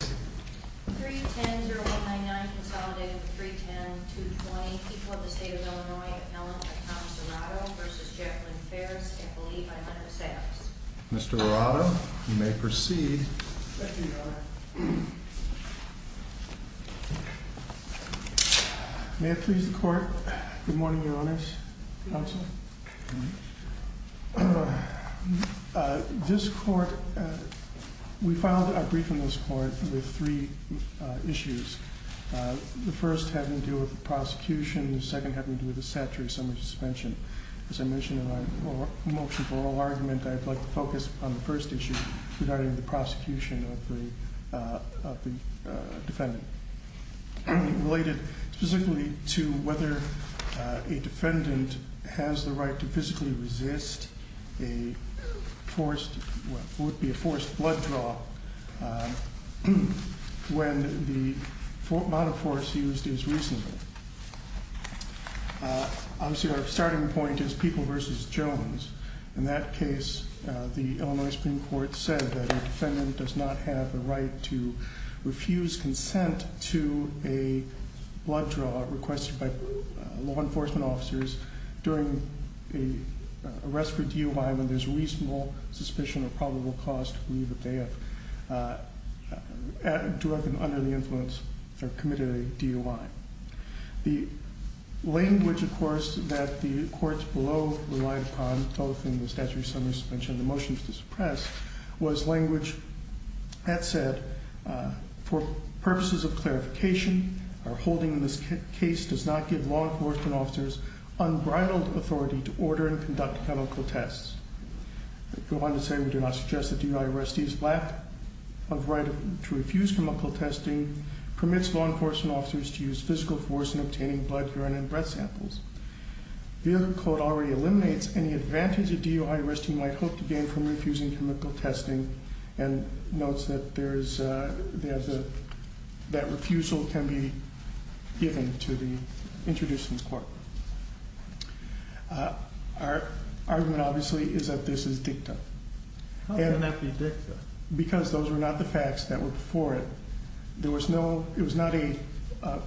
310-0199 Consolidated with 310-220 People of the State of Illinois Appellant to Tom Serrato v. Jacqueline Farris and believe I might have a say on this Mr. Serrato, you may proceed Thank you, Your Honor May it please the Court? Good morning, Your Honors Counsel This Court, we filed a brief in this Court with three issues The first having to do with the prosecution, the second having to do with the statutory summary suspension As I mentioned in my motion for oral argument, I'd like to focus on the first issue regarding the prosecution of the defendant Related specifically to whether a defendant has the right to physically resist a forced blood draw when the amount of force used is reasonable Obviously, our starting point is People v. Jones In that case, the Illinois Supreme Court said that a defendant does not have the right to refuse consent to a blood draw requested by law enforcement officers during an arrest for DUI when there's reasonable suspicion or probable cause to believe that they have, directly under the influence, committed a DUI The language, of course, that the Courts below relied upon, both in the statutory summary suspension and the motions to suppress, was language that said For purposes of clarification, our holding in this case does not give law enforcement officers unbridled authority to order and conduct chemical tests Go on to say we do not suggest that DUI arrestees lack of right to refuse chemical testing, permits law enforcement officers to use physical force in obtaining blood, urine, and breath samples The other quote already eliminates any advantage a DUI arrestee might hope to gain from refusing chemical testing and notes that refusal can be given to the introducing court Our argument, obviously, is that this is dicta How can that be dicta? Because those were not the facts that were before it It was not a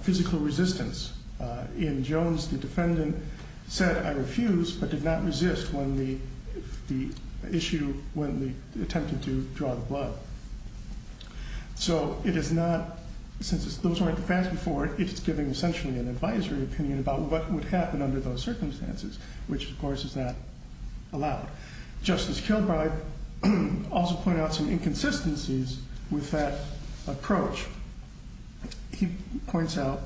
physical resistance In Jones, the defendant said, I refuse, but did not resist when the attempted to draw the blood Since those were not the facts before it, it is giving an advisory opinion about what would happen under those circumstances Which, of course, is not allowed Justice Kilbride also pointed out some inconsistencies with that approach He points out,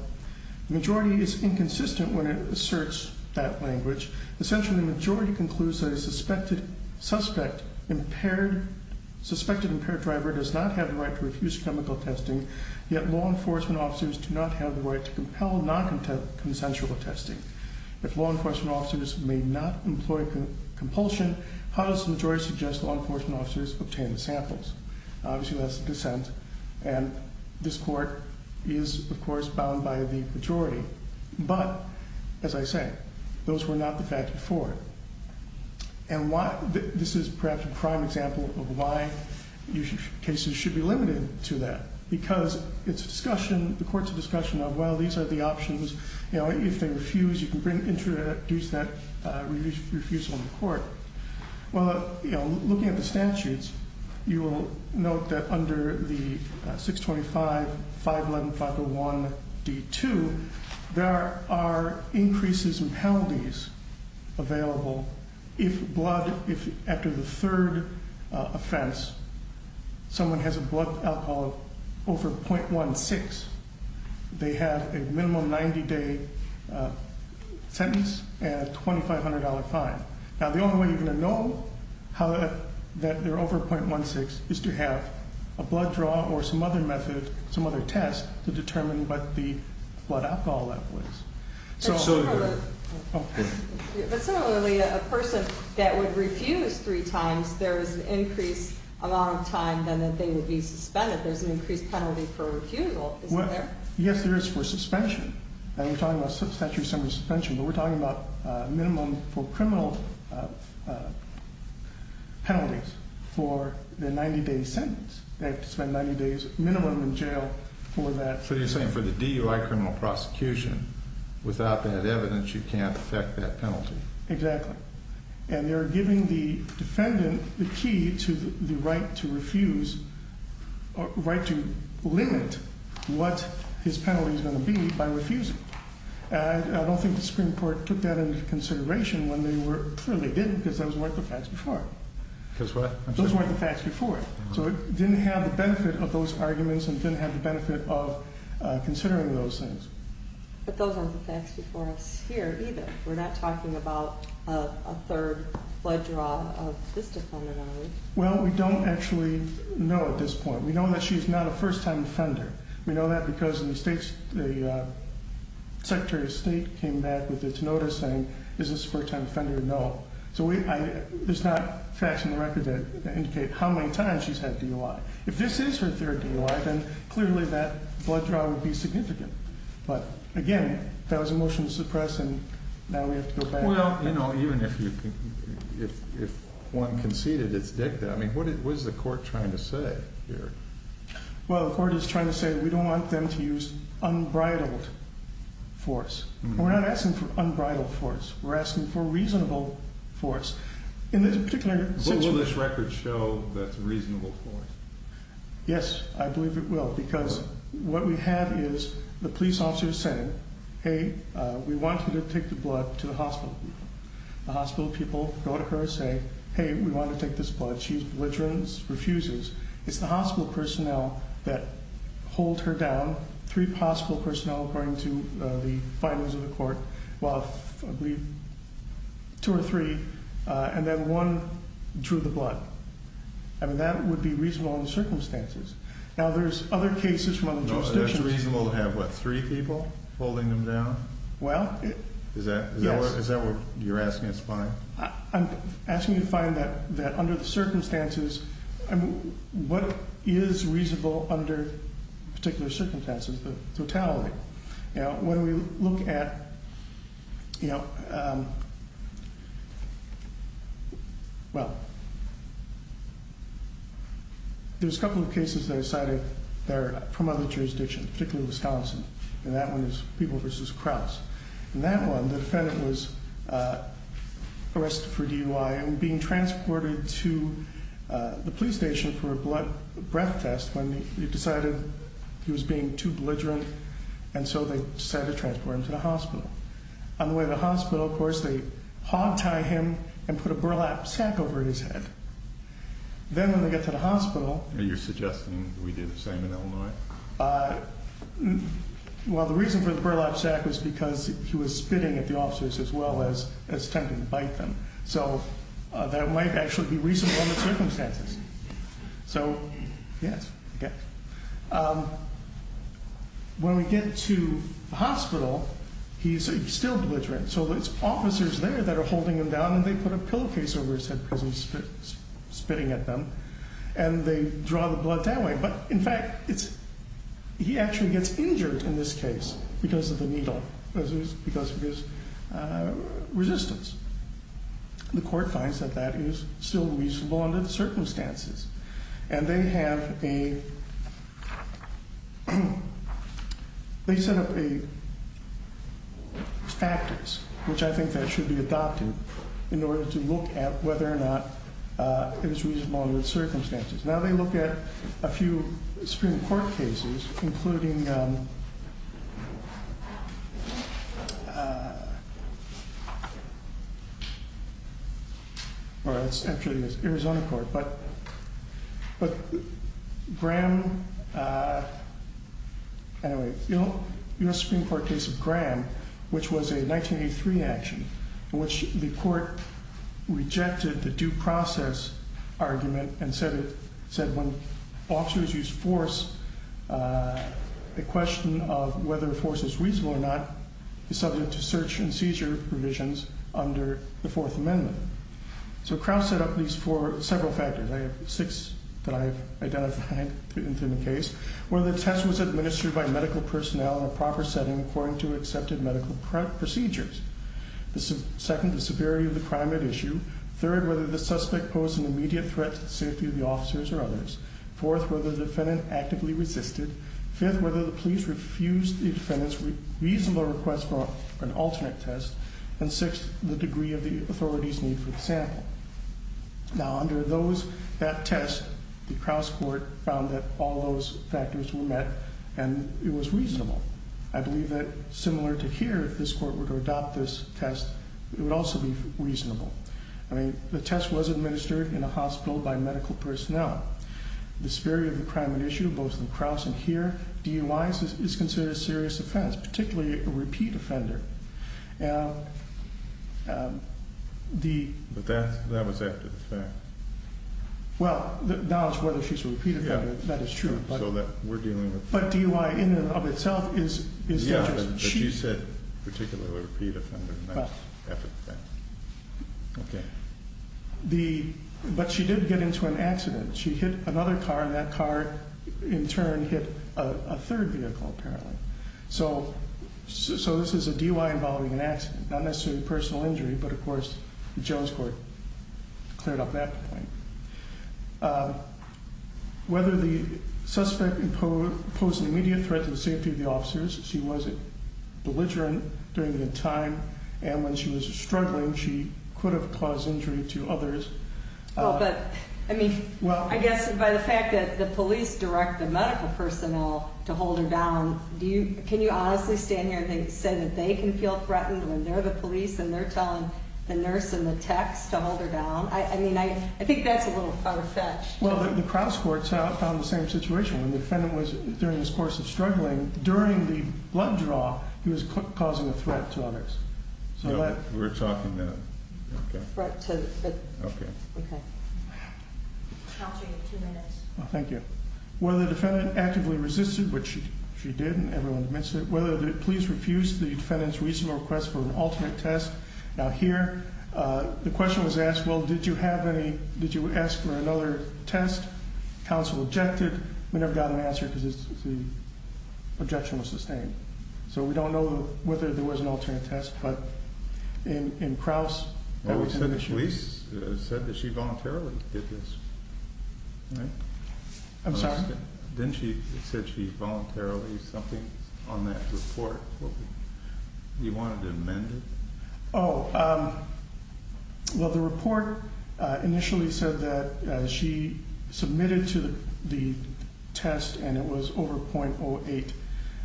the majority is inconsistent when it asserts that language Essentially, the majority concludes that a suspected impaired driver does not have the right to refuse chemical testing Yet law enforcement officers do not have the right to compel non-consensual testing If law enforcement officers may not employ compulsion, how does the majority suggest law enforcement officers obtain the samples? Obviously, that's dissent And this court is, of course, bound by the majority But, as I say, those were not the facts before it And this is perhaps a prime example of why cases should be limited to that Because the court is a discussion of, well, these are the options If they refuse, you can introduce that refusal in court Well, looking at the statutes, you will note that under the 625-511-501-D2 There are increases in penalties available if, after the third offense, someone has a blood alcohol of over .16 They have a minimum 90-day sentence and a $2,500 fine Now, the only way you're going to know that they're over .16 is to have a blood draw or some other method, some other test To determine what the blood alcohol level is But similarly, a person that would refuse three times, there is an increased amount of time that they would be suspended There's an increased penalty for refusal, isn't there? Yes, there is for suspension We're talking about minimum for criminal penalties for the 90-day sentence They have to spend 90 days minimum in jail for that So you're saying for the DUI criminal prosecution, without that evidence, you can't affect that penalty Exactly And they're giving the defendant the key to the right to limit what his penalty is going to be by refusing I don't think the Supreme Court took that into consideration when they were... Well, they didn't because those weren't the facts before Those weren't the facts before So it didn't have the benefit of those arguments and didn't have the benefit of considering those things But those aren't the facts before us here either We're not talking about a third blood draw of this defendant, are we? Well, we don't actually know at this point We know that she's not a first-time offender We know that because the Secretary of State came back with its notice saying, is this a first-time offender? No So there's not facts in the record that indicate how many times she's had DUI If this is her third DUI, then clearly that blood draw would be significant But again, that was a motion to suppress and now we have to go back Well, you know, even if one conceded its dicta, I mean, what is the court trying to say here? Well, the court is trying to say we don't want them to use unbridled force We're not asking for unbridled force, we're asking for reasonable force What will this record show that's reasonable force? Yes, I believe it will Because what we have is the police officer saying, hey, we want you to take the blood to the hospital The hospital people go to her and say, hey, we want to take this blood She's belligerent, refuses It's the hospital personnel that hold her down Three hospital personnel according to the findings of the court And then one drew the blood I mean, that would be reasonable in the circumstances Now, there's other cases from other jurisdictions It's reasonable to have, what, three people holding them down? Well, yes Is that what you're asking us to find? I'm asking you to find that under the circumstances, what is reasonable under particular circumstances, the totality? Now, when we look at, you know, well, there's a couple of cases that are cited that are from other jurisdictions, particularly Wisconsin And that one is People v. Krause And that one, the defendant was arrested for DUI and being transported to the police station for a breath test When he decided he was being too belligerent And so they decided to transport him to the hospital On the way to the hospital, of course, they hogtie him and put a burlap sack over his head Then when they get to the hospital Are you suggesting we did the same in Illinois? Well, the reason for the burlap sack was because he was spitting at the officers as well as attempting to bite them So that might actually be reasonable in the circumstances So, yes, okay When we get to the hospital, he's still belligerent So there's officers there that are holding him down and they put a pillowcase over his head because he's spitting at them And they draw the blood that way But in fact, he actually gets injured in this case because of the needle Because of his resistance The court finds that that is still reasonable under the circumstances And they have a They set up a factors, which I think that should be adopted In order to look at whether or not it is reasonable under the circumstances Now they look at a few Supreme Court cases, including Well, it's actually the Arizona court But Graham Anyway, you know, US Supreme Court case of Graham Which was a 1983 action In which the court rejected the due process argument And said when officers use force The question of whether force is reasonable or not Is subject to search and seizure provisions under the Fourth Amendment So Krauss set up these four, several factors I have six that I've identified in the case Whether the test was administered by medical personnel in a proper setting according to accepted medical procedures Second, the severity of the crime at issue Third, whether the suspect posed an immediate threat to the safety of the officers or others Fourth, whether the defendant actively resisted Fifth, whether the police refused the defendant's reasonable request for an alternate test And sixth, the degree of the authority's need for the sample Now under those, that test, the Krauss court found that all those factors were met And it was reasonable I believe that similar to here, if this court were to adopt this test It would also be reasonable I mean, the test was administered in a hospital by medical personnel The severity of the crime at issue, both in Krauss and here DUI is considered a serious offense, particularly a repeat offender But that was after the fact Well, now it's whether she's a repeat offender, that is true So that we're dealing with But DUI in and of itself is Yeah, but you said particularly a repeat offender Well After the fact Okay But she did get into an accident She hit another car and that car in turn hit a third vehicle apparently So this is a DUI involving an accident, not necessarily a personal injury But of course, the Jones court cleared up that point Whether the suspect posed an immediate threat to the safety of the officers She was belligerent during the time And when she was struggling, she could have caused injury to others Well, but I mean, I guess by the fact that the police direct the medical personnel to hold her down Can you honestly stand here and say that they can feel threatened when they're the police And they're telling the nurse and the techs to hold her down I mean, I think that's a little far-fetched Well, the Krauss court found the same situation When the defendant was during this course of struggling And during the blood draw, he was causing a threat to others So that We're talking that Okay Threat to the Okay Okay Counsel, you have two minutes Thank you Whether the defendant actively resisted, which she did and everyone admits it Whether the police refused the defendant's recent request for an alternate test Now here, the question was asked, well, did you have any, did you ask for another test? Counsel objected We never got an answer because the objection was sustained So we don't know whether there was an alternate test But in Krauss Well, we said the police said that she voluntarily did this Right I'm sorry Didn't she say she voluntarily, something on that report You wanted to amend it Oh, well, the report initially said that she submitted to the test and it was over .08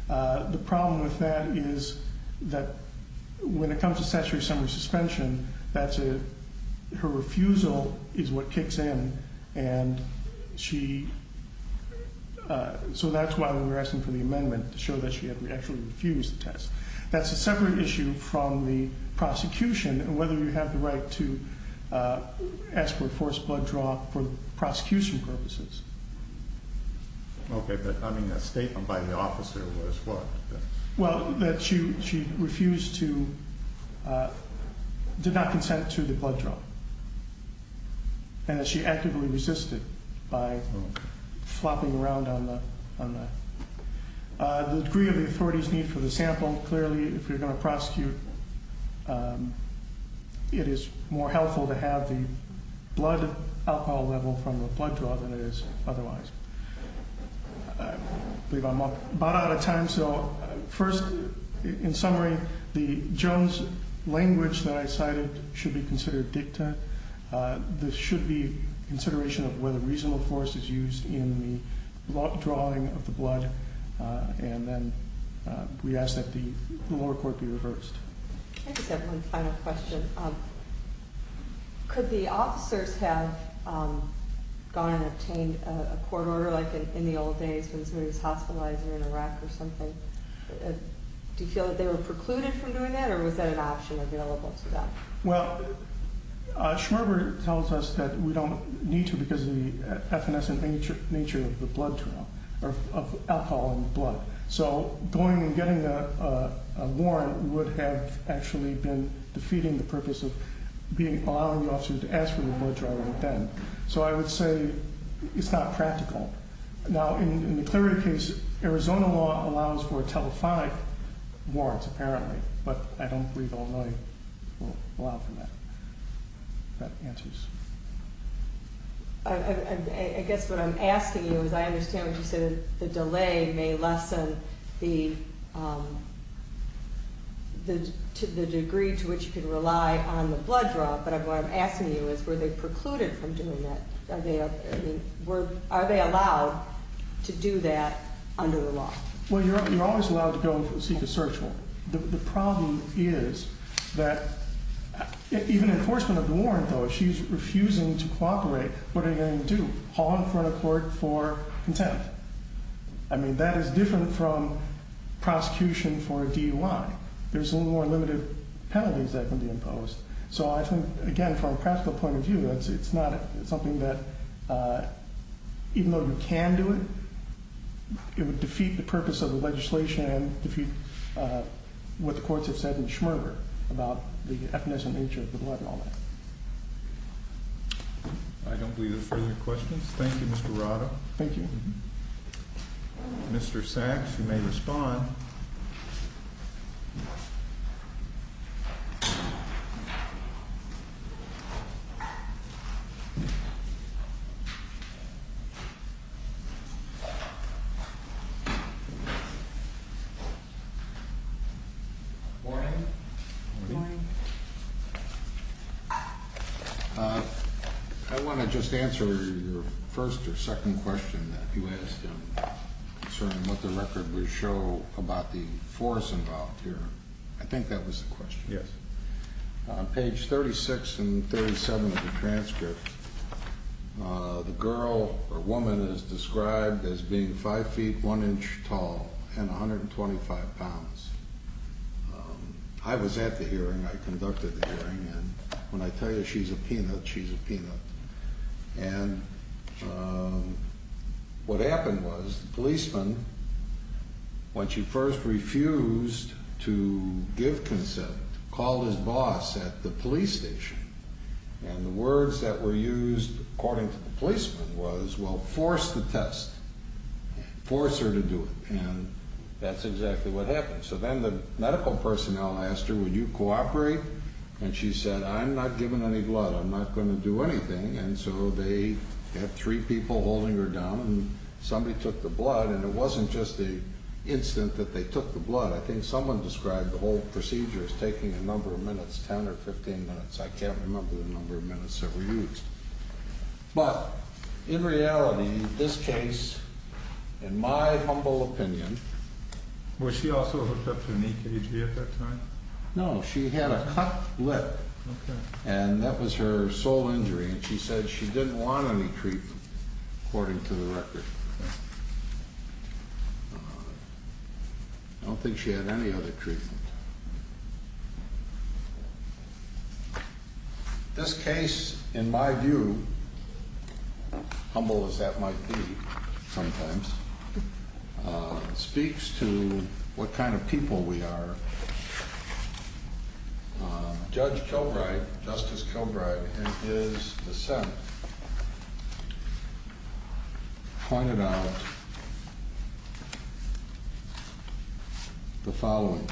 The problem with that is that when it comes to statutory summary suspension That's a, her refusal is what kicks in And she, so that's why we were asking for the amendment That's a separate issue from the prosecution and whether you have the right to ask for a forced blood draw for prosecution purposes Okay, but I mean a statement by the officer was what Well, that she refused to, did not consent to the blood draw And that she actively resisted by flopping around on the The degree of the authority's need for the sample, clearly if you're going to prosecute It is more helpful to have the blood alcohol level from the blood draw than it is otherwise I believe I'm about out of time, so first, in summary The Jones language that I cited should be considered dicta There should be consideration of whether reasonable force is used in the drawing of the blood And then we ask that the lower court be reversed I just have one final question Could the officers have gone and obtained a court order like in the old days when somebody was hospitalized in Iraq or something Do you feel that they were precluded from doing that or was that an option available to them? Well, Schmerber tells us that we don't need to because of the effervescent nature of the blood draw Or of alcohol in the blood So going and getting a warrant would have actually been defeating the purpose of allowing the officers to ask for the blood draw right then So I would say it's not practical Now in the Clery case, Arizona law allows for telephonic warrants apparently But I don't believe Illinois will allow for that I guess what I'm asking you is I understand what you said The delay may lessen the degree to which you can rely on the blood draw But what I'm asking you is were they precluded from doing that? Are they allowed to do that under the law? Well, you're always allowed to go and seek a search warrant The problem is that even enforcement of the warrant though, if she's refusing to cooperate What are you going to do? Haul in front of court for contempt? I mean that is different from prosecution for a DUI There's a little more limited penalties that can be imposed So I think again from a practical point of view, it's not something that even though you can do it It would defeat the purpose of the legislation and defeat what the courts have said in Schmerber about the ethnicity and nature of the blood and all that I don't believe there are further questions Thank you Mr. Arado Thank you Mr. Sachs, you may respond Morning Morning I want to just answer your first or second question that you asked Concerning what the record would show about the force involved here I think that was the question Yes On page 36 and 37 of the transcript The girl or woman is described as being 5 feet 1 inch tall and 125 pounds I was at the hearing, I conducted the hearing and when I tell you she's a peanut, she's a peanut And what happened was the policeman, when she first refused to give consent Called his boss at the police station And the words that were used according to the policeman was, well, force the test Force her to do it And that's exactly what happened So then the medical personnel asked her, would you cooperate? And she said, I'm not giving any blood, I'm not going to do anything And so they had three people holding her down and somebody took the blood And it wasn't just the instant that they took the blood I think someone described the whole procedure as taking a number of minutes, 10 or 15 minutes I can't remember the number of minutes that were used But in reality, this case, in my humble opinion Was she also hooked up to an EKG at that time? No, she had a cut lip And that was her sole injury And she said she didn't want any treatment, according to the record I don't think she had any other treatment This case, in my view, humble as that might be sometimes Speaks to what kind of people we are Judge Kilbride, Justice Kilbride, in his dissent Pointed out the following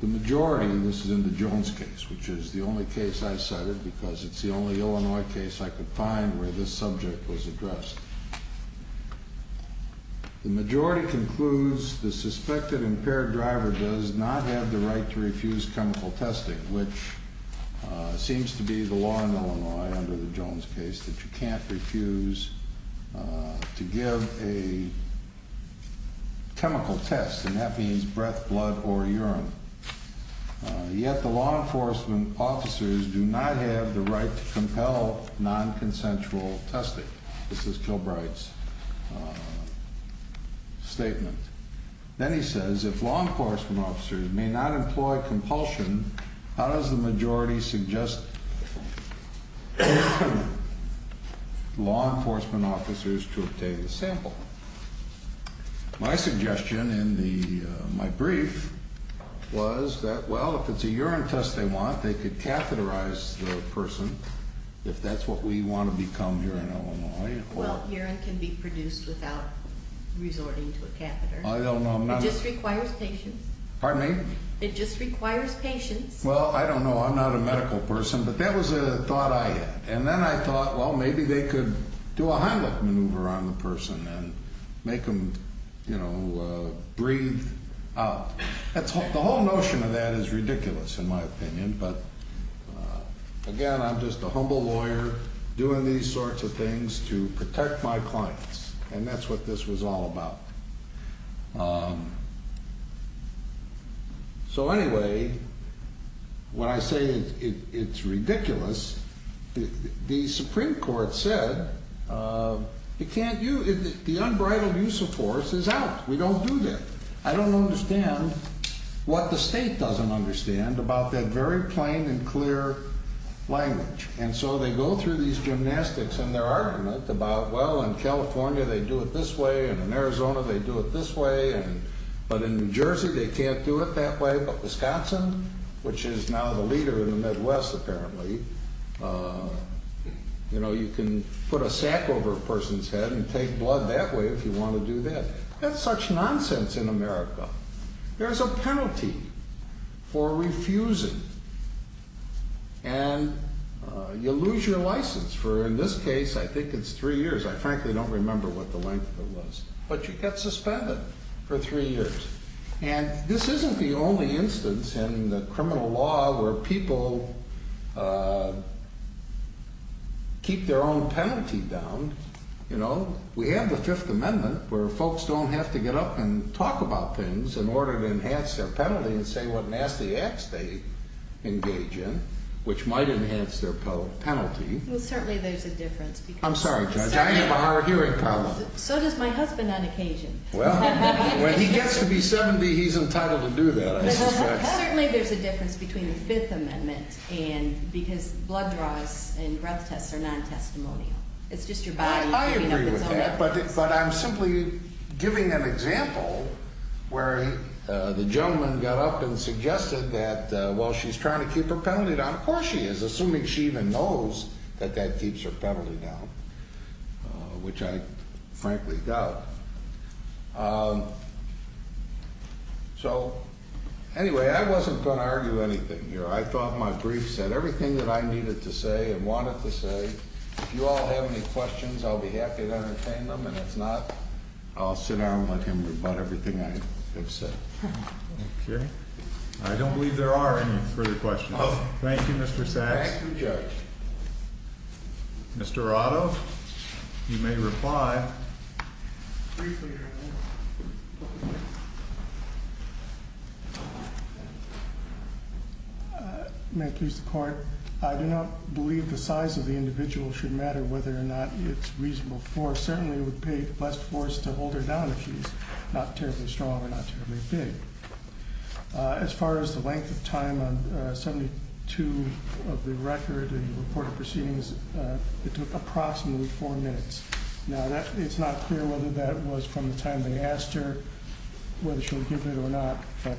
The majority, and this is in the Jones case, which is the only case I cited Because it's the only Illinois case I could find where this subject was addressed The majority concludes The suspected impaired driver does not have the right to refuse chemical testing Which seems to be the law in Illinois under the Jones case That you can't refuse to give a chemical test And that means breath, blood, or urine Yet the law enforcement officers do not have the right to compel non-consensual testing This is Kilbride's statement Then he says, if law enforcement officers may not employ compulsion How does the majority suggest law enforcement officers to obtain a sample? My suggestion in my brief was that Well, if it's a urine test they want, they could catheterize the person If that's what we want to become here in Illinois Well, urine can be produced without resorting to a catheter I don't know, I'm not It just requires patience Pardon me? It just requires patience Well, I don't know, I'm not a medical person But that was a thought I had And then I thought, well, maybe they could do a Heimlich maneuver on the person The whole notion of that is ridiculous in my opinion But again, I'm just a humble lawyer Doing these sorts of things to protect my clients And that's what this was all about So anyway, when I say it's ridiculous The Supreme Court said The unbridled use of force is out We don't do that I don't understand what the state doesn't understand About that very plain and clear language And so they go through these gymnastics And their argument about Well, in California they do it this way And in Arizona they do it this way But in New Jersey they can't do it that way But Wisconsin, which is now the leader in the Midwest apparently You know, you can put a sack over a person's head And take blood that way if you want to do that That's such nonsense in America There's a penalty for refusing And you lose your license For in this case, I think it's three years I frankly don't remember what the length of it was But you get suspended for three years And this isn't the only instance in the criminal law Where people keep their own penalty down You know, we have the Fifth Amendment Where folks don't have to get up and talk about things In order to enhance their penalty And say what nasty acts they engage in Which might enhance their penalty Well, certainly there's a difference I'm sorry, Judge, I have a hard hearing problem So does my husband on occasion Well, when he gets to be 70 He's entitled to do that, I suspect Certainly there's a difference between the Fifth Amendment Because blood draws and breath tests are non-testimonial Well, I agree with that But I'm simply giving an example Where the gentleman got up and suggested That while she's trying to keep her penalty down Of course she is, assuming she even knows That that keeps her penalty down Which I frankly doubt So, anyway, I wasn't going to argue anything here I thought my brief said everything that I needed to say And wanted to say If you all have any questions I'll be happy to entertain them And if not, I'll sit down and let him rebut everything I have said Okay I don't believe there are any further questions Thank you, Mr. Sachs Thank you, Judge Mr. Otto, you may reply Briefly, Your Honor May it please the Court Your Honor, I do not believe the size of the individual Should matter whether or not it's reasonable force Certainly it would pay less force to hold her down If she's not terribly strong or not terribly big As far as the length of time On 72 of the record And reported proceedings It took approximately 4 minutes Now, it's not clear whether that was from the time they asked her Whether she'll give it or not But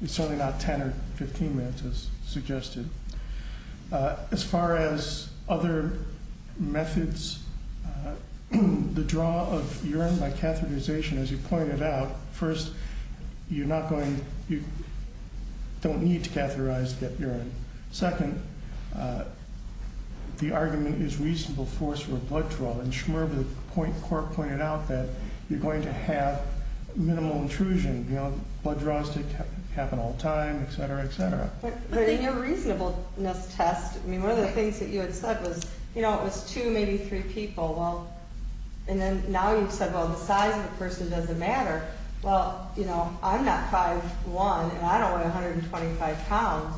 it's certainly not 10 or 15 minutes As suggested As far as other methods The draw of urine by catheterization As you pointed out First, you're not going to You don't need to catheterize that urine Second The argument is reasonable force for a blood draw And Schmerb and the Court pointed out that You're going to have minimal intrusion You know, blood draws happen all the time But in your reasonableness test One of the things that you had said was You know, it was 2, maybe 3 people And then now you've said Well, the size of the person doesn't matter Well, you know, I'm not 5'1'' And I don't weigh 125 pounds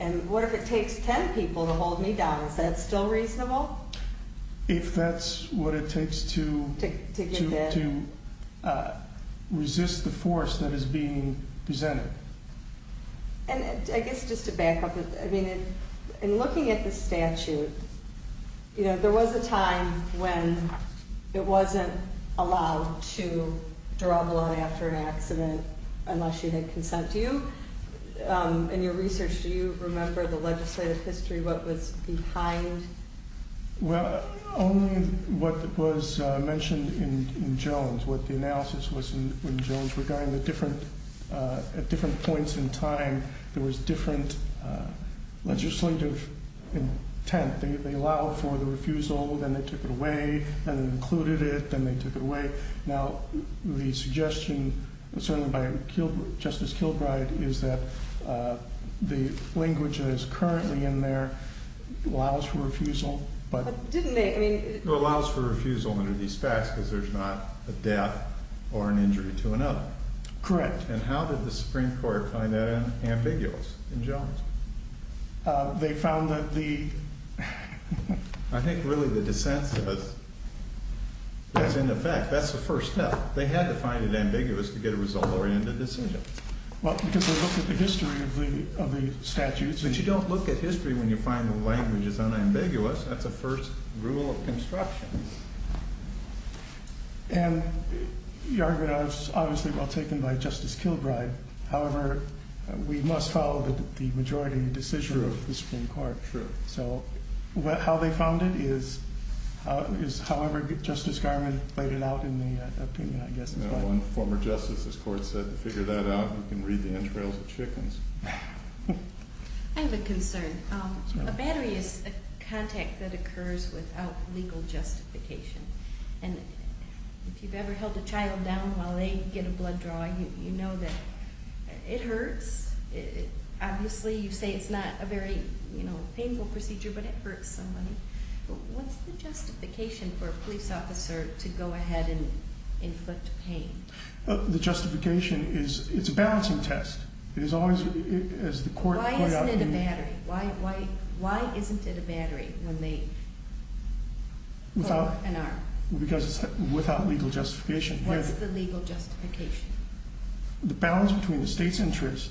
And what if it takes 10 people to hold me down? Is that still reasonable? If that's what it takes to To resist the force that is being presented And I guess just to back up I mean, in looking at the statute You know, there was a time when It wasn't allowed to draw blood after an accident Unless you had consent Do you, in your research Do you remember the legislative history? What was behind? Well, only what was mentioned in Jones What the analysis was in Jones At different points in time There was different legislative intent They allowed for the refusal Then they took it away Then they included it Then they took it away Now, the suggestion Certainly by Justice Kilbride Is that the language that is currently in there Allows for refusal But didn't they? It allows for refusal under these facts Because there's not a death Or an injury to another Correct And how did the Supreme Court Find that ambiguous in Jones? They found that the I think really the dissent says That's in effect That's the first step They had to find it ambiguous To get a result-oriented decision Well, because they looked at the history Of the statutes But you don't look at history When you find the language is unambiguous That's a first rule of construction And your argument Is obviously well taken By Justice Kilbride However, we must follow The majority decision of the Supreme Court So, how they found it Is however Justice Garment Played it out in the opinion I guess Former Justice's court said To figure that out You can read the entrails of chickens I have a concern A battery is a contact That occurs without Legal justification And if you've ever held a child down While they get a blood draw You know that it hurts Obviously you say it's not A very painful procedure But it hurts somebody What's the justification For a police officer To go ahead and inflict pain? The justification is It's a balancing test It's always Why isn't it a battery? Why isn't it a battery When they Pull an arm? Because it's without Legal justification What's the legal justification? The balance between The state's interest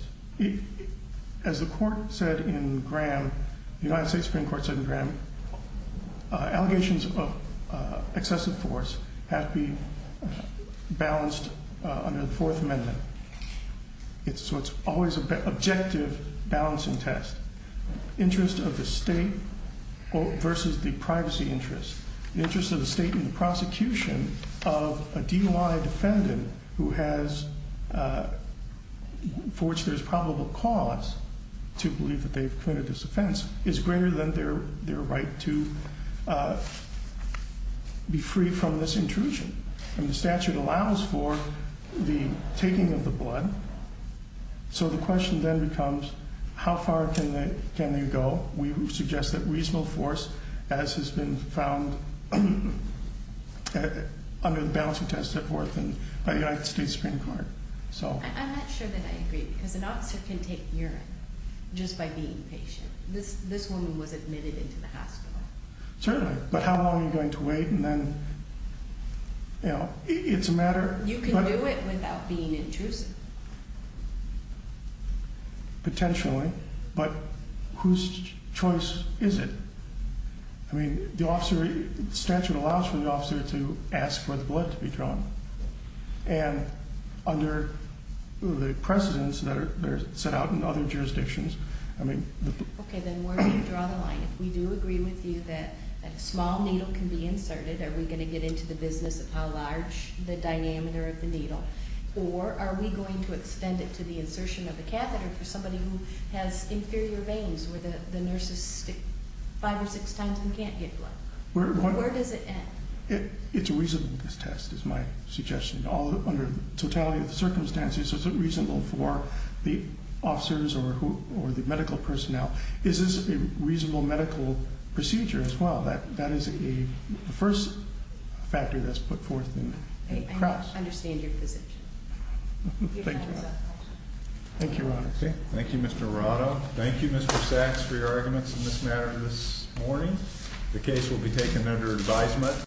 As the court said in Graham The United States Supreme Court Said in Graham Allegations of excessive force Have to be balanced Under the Fourth Amendment So it's always An objective balancing test Interest of the state Versus the privacy interest The interest of the state In the prosecution Of a DUI defendant Who has For which there's probable cause To believe that they've committed this offense Is greater than their right to Be free from this intrusion And the statute allows for The taking of the blood So the question then becomes How far can you go? We suggest that reasonable force As has been found Under the balancing test At Horton By the United States Supreme Court I'm not sure that I agree Because an officer can take urine Just by being patient This woman was admitted Into the hospital Certainly, but how long Are you going to wait And then It's a matter You can do it Without being intrusive Potentially But whose choice is it? I mean, the officer The statute allows for the officer To ask for the blood to be drawn And under the precedence That are set out In other jurisdictions I mean Okay, then where do you draw the line? If we do agree with you That a small needle can be inserted Are we going to get into the business Of how large The dynamiter of the needle Or are we going to extend it To the insertion of the catheter For somebody who has inferior veins Where the nurses stick Five or six times And can't get blood? Where does it end? It's a reasonableness test Is my suggestion Under the totality Of the circumstances Is it reasonable For the officers Or the medical personnel? Is this a reasonable Medical procedure as well? That is the first factor That's put forth in the cross To help understand Your position. Thank you. Thank you, Your Honor. Thank you, Mr. Arado. Thank you, Mr. Sachs, For your arguments On this matter this morning. The case will be taken Under advisement.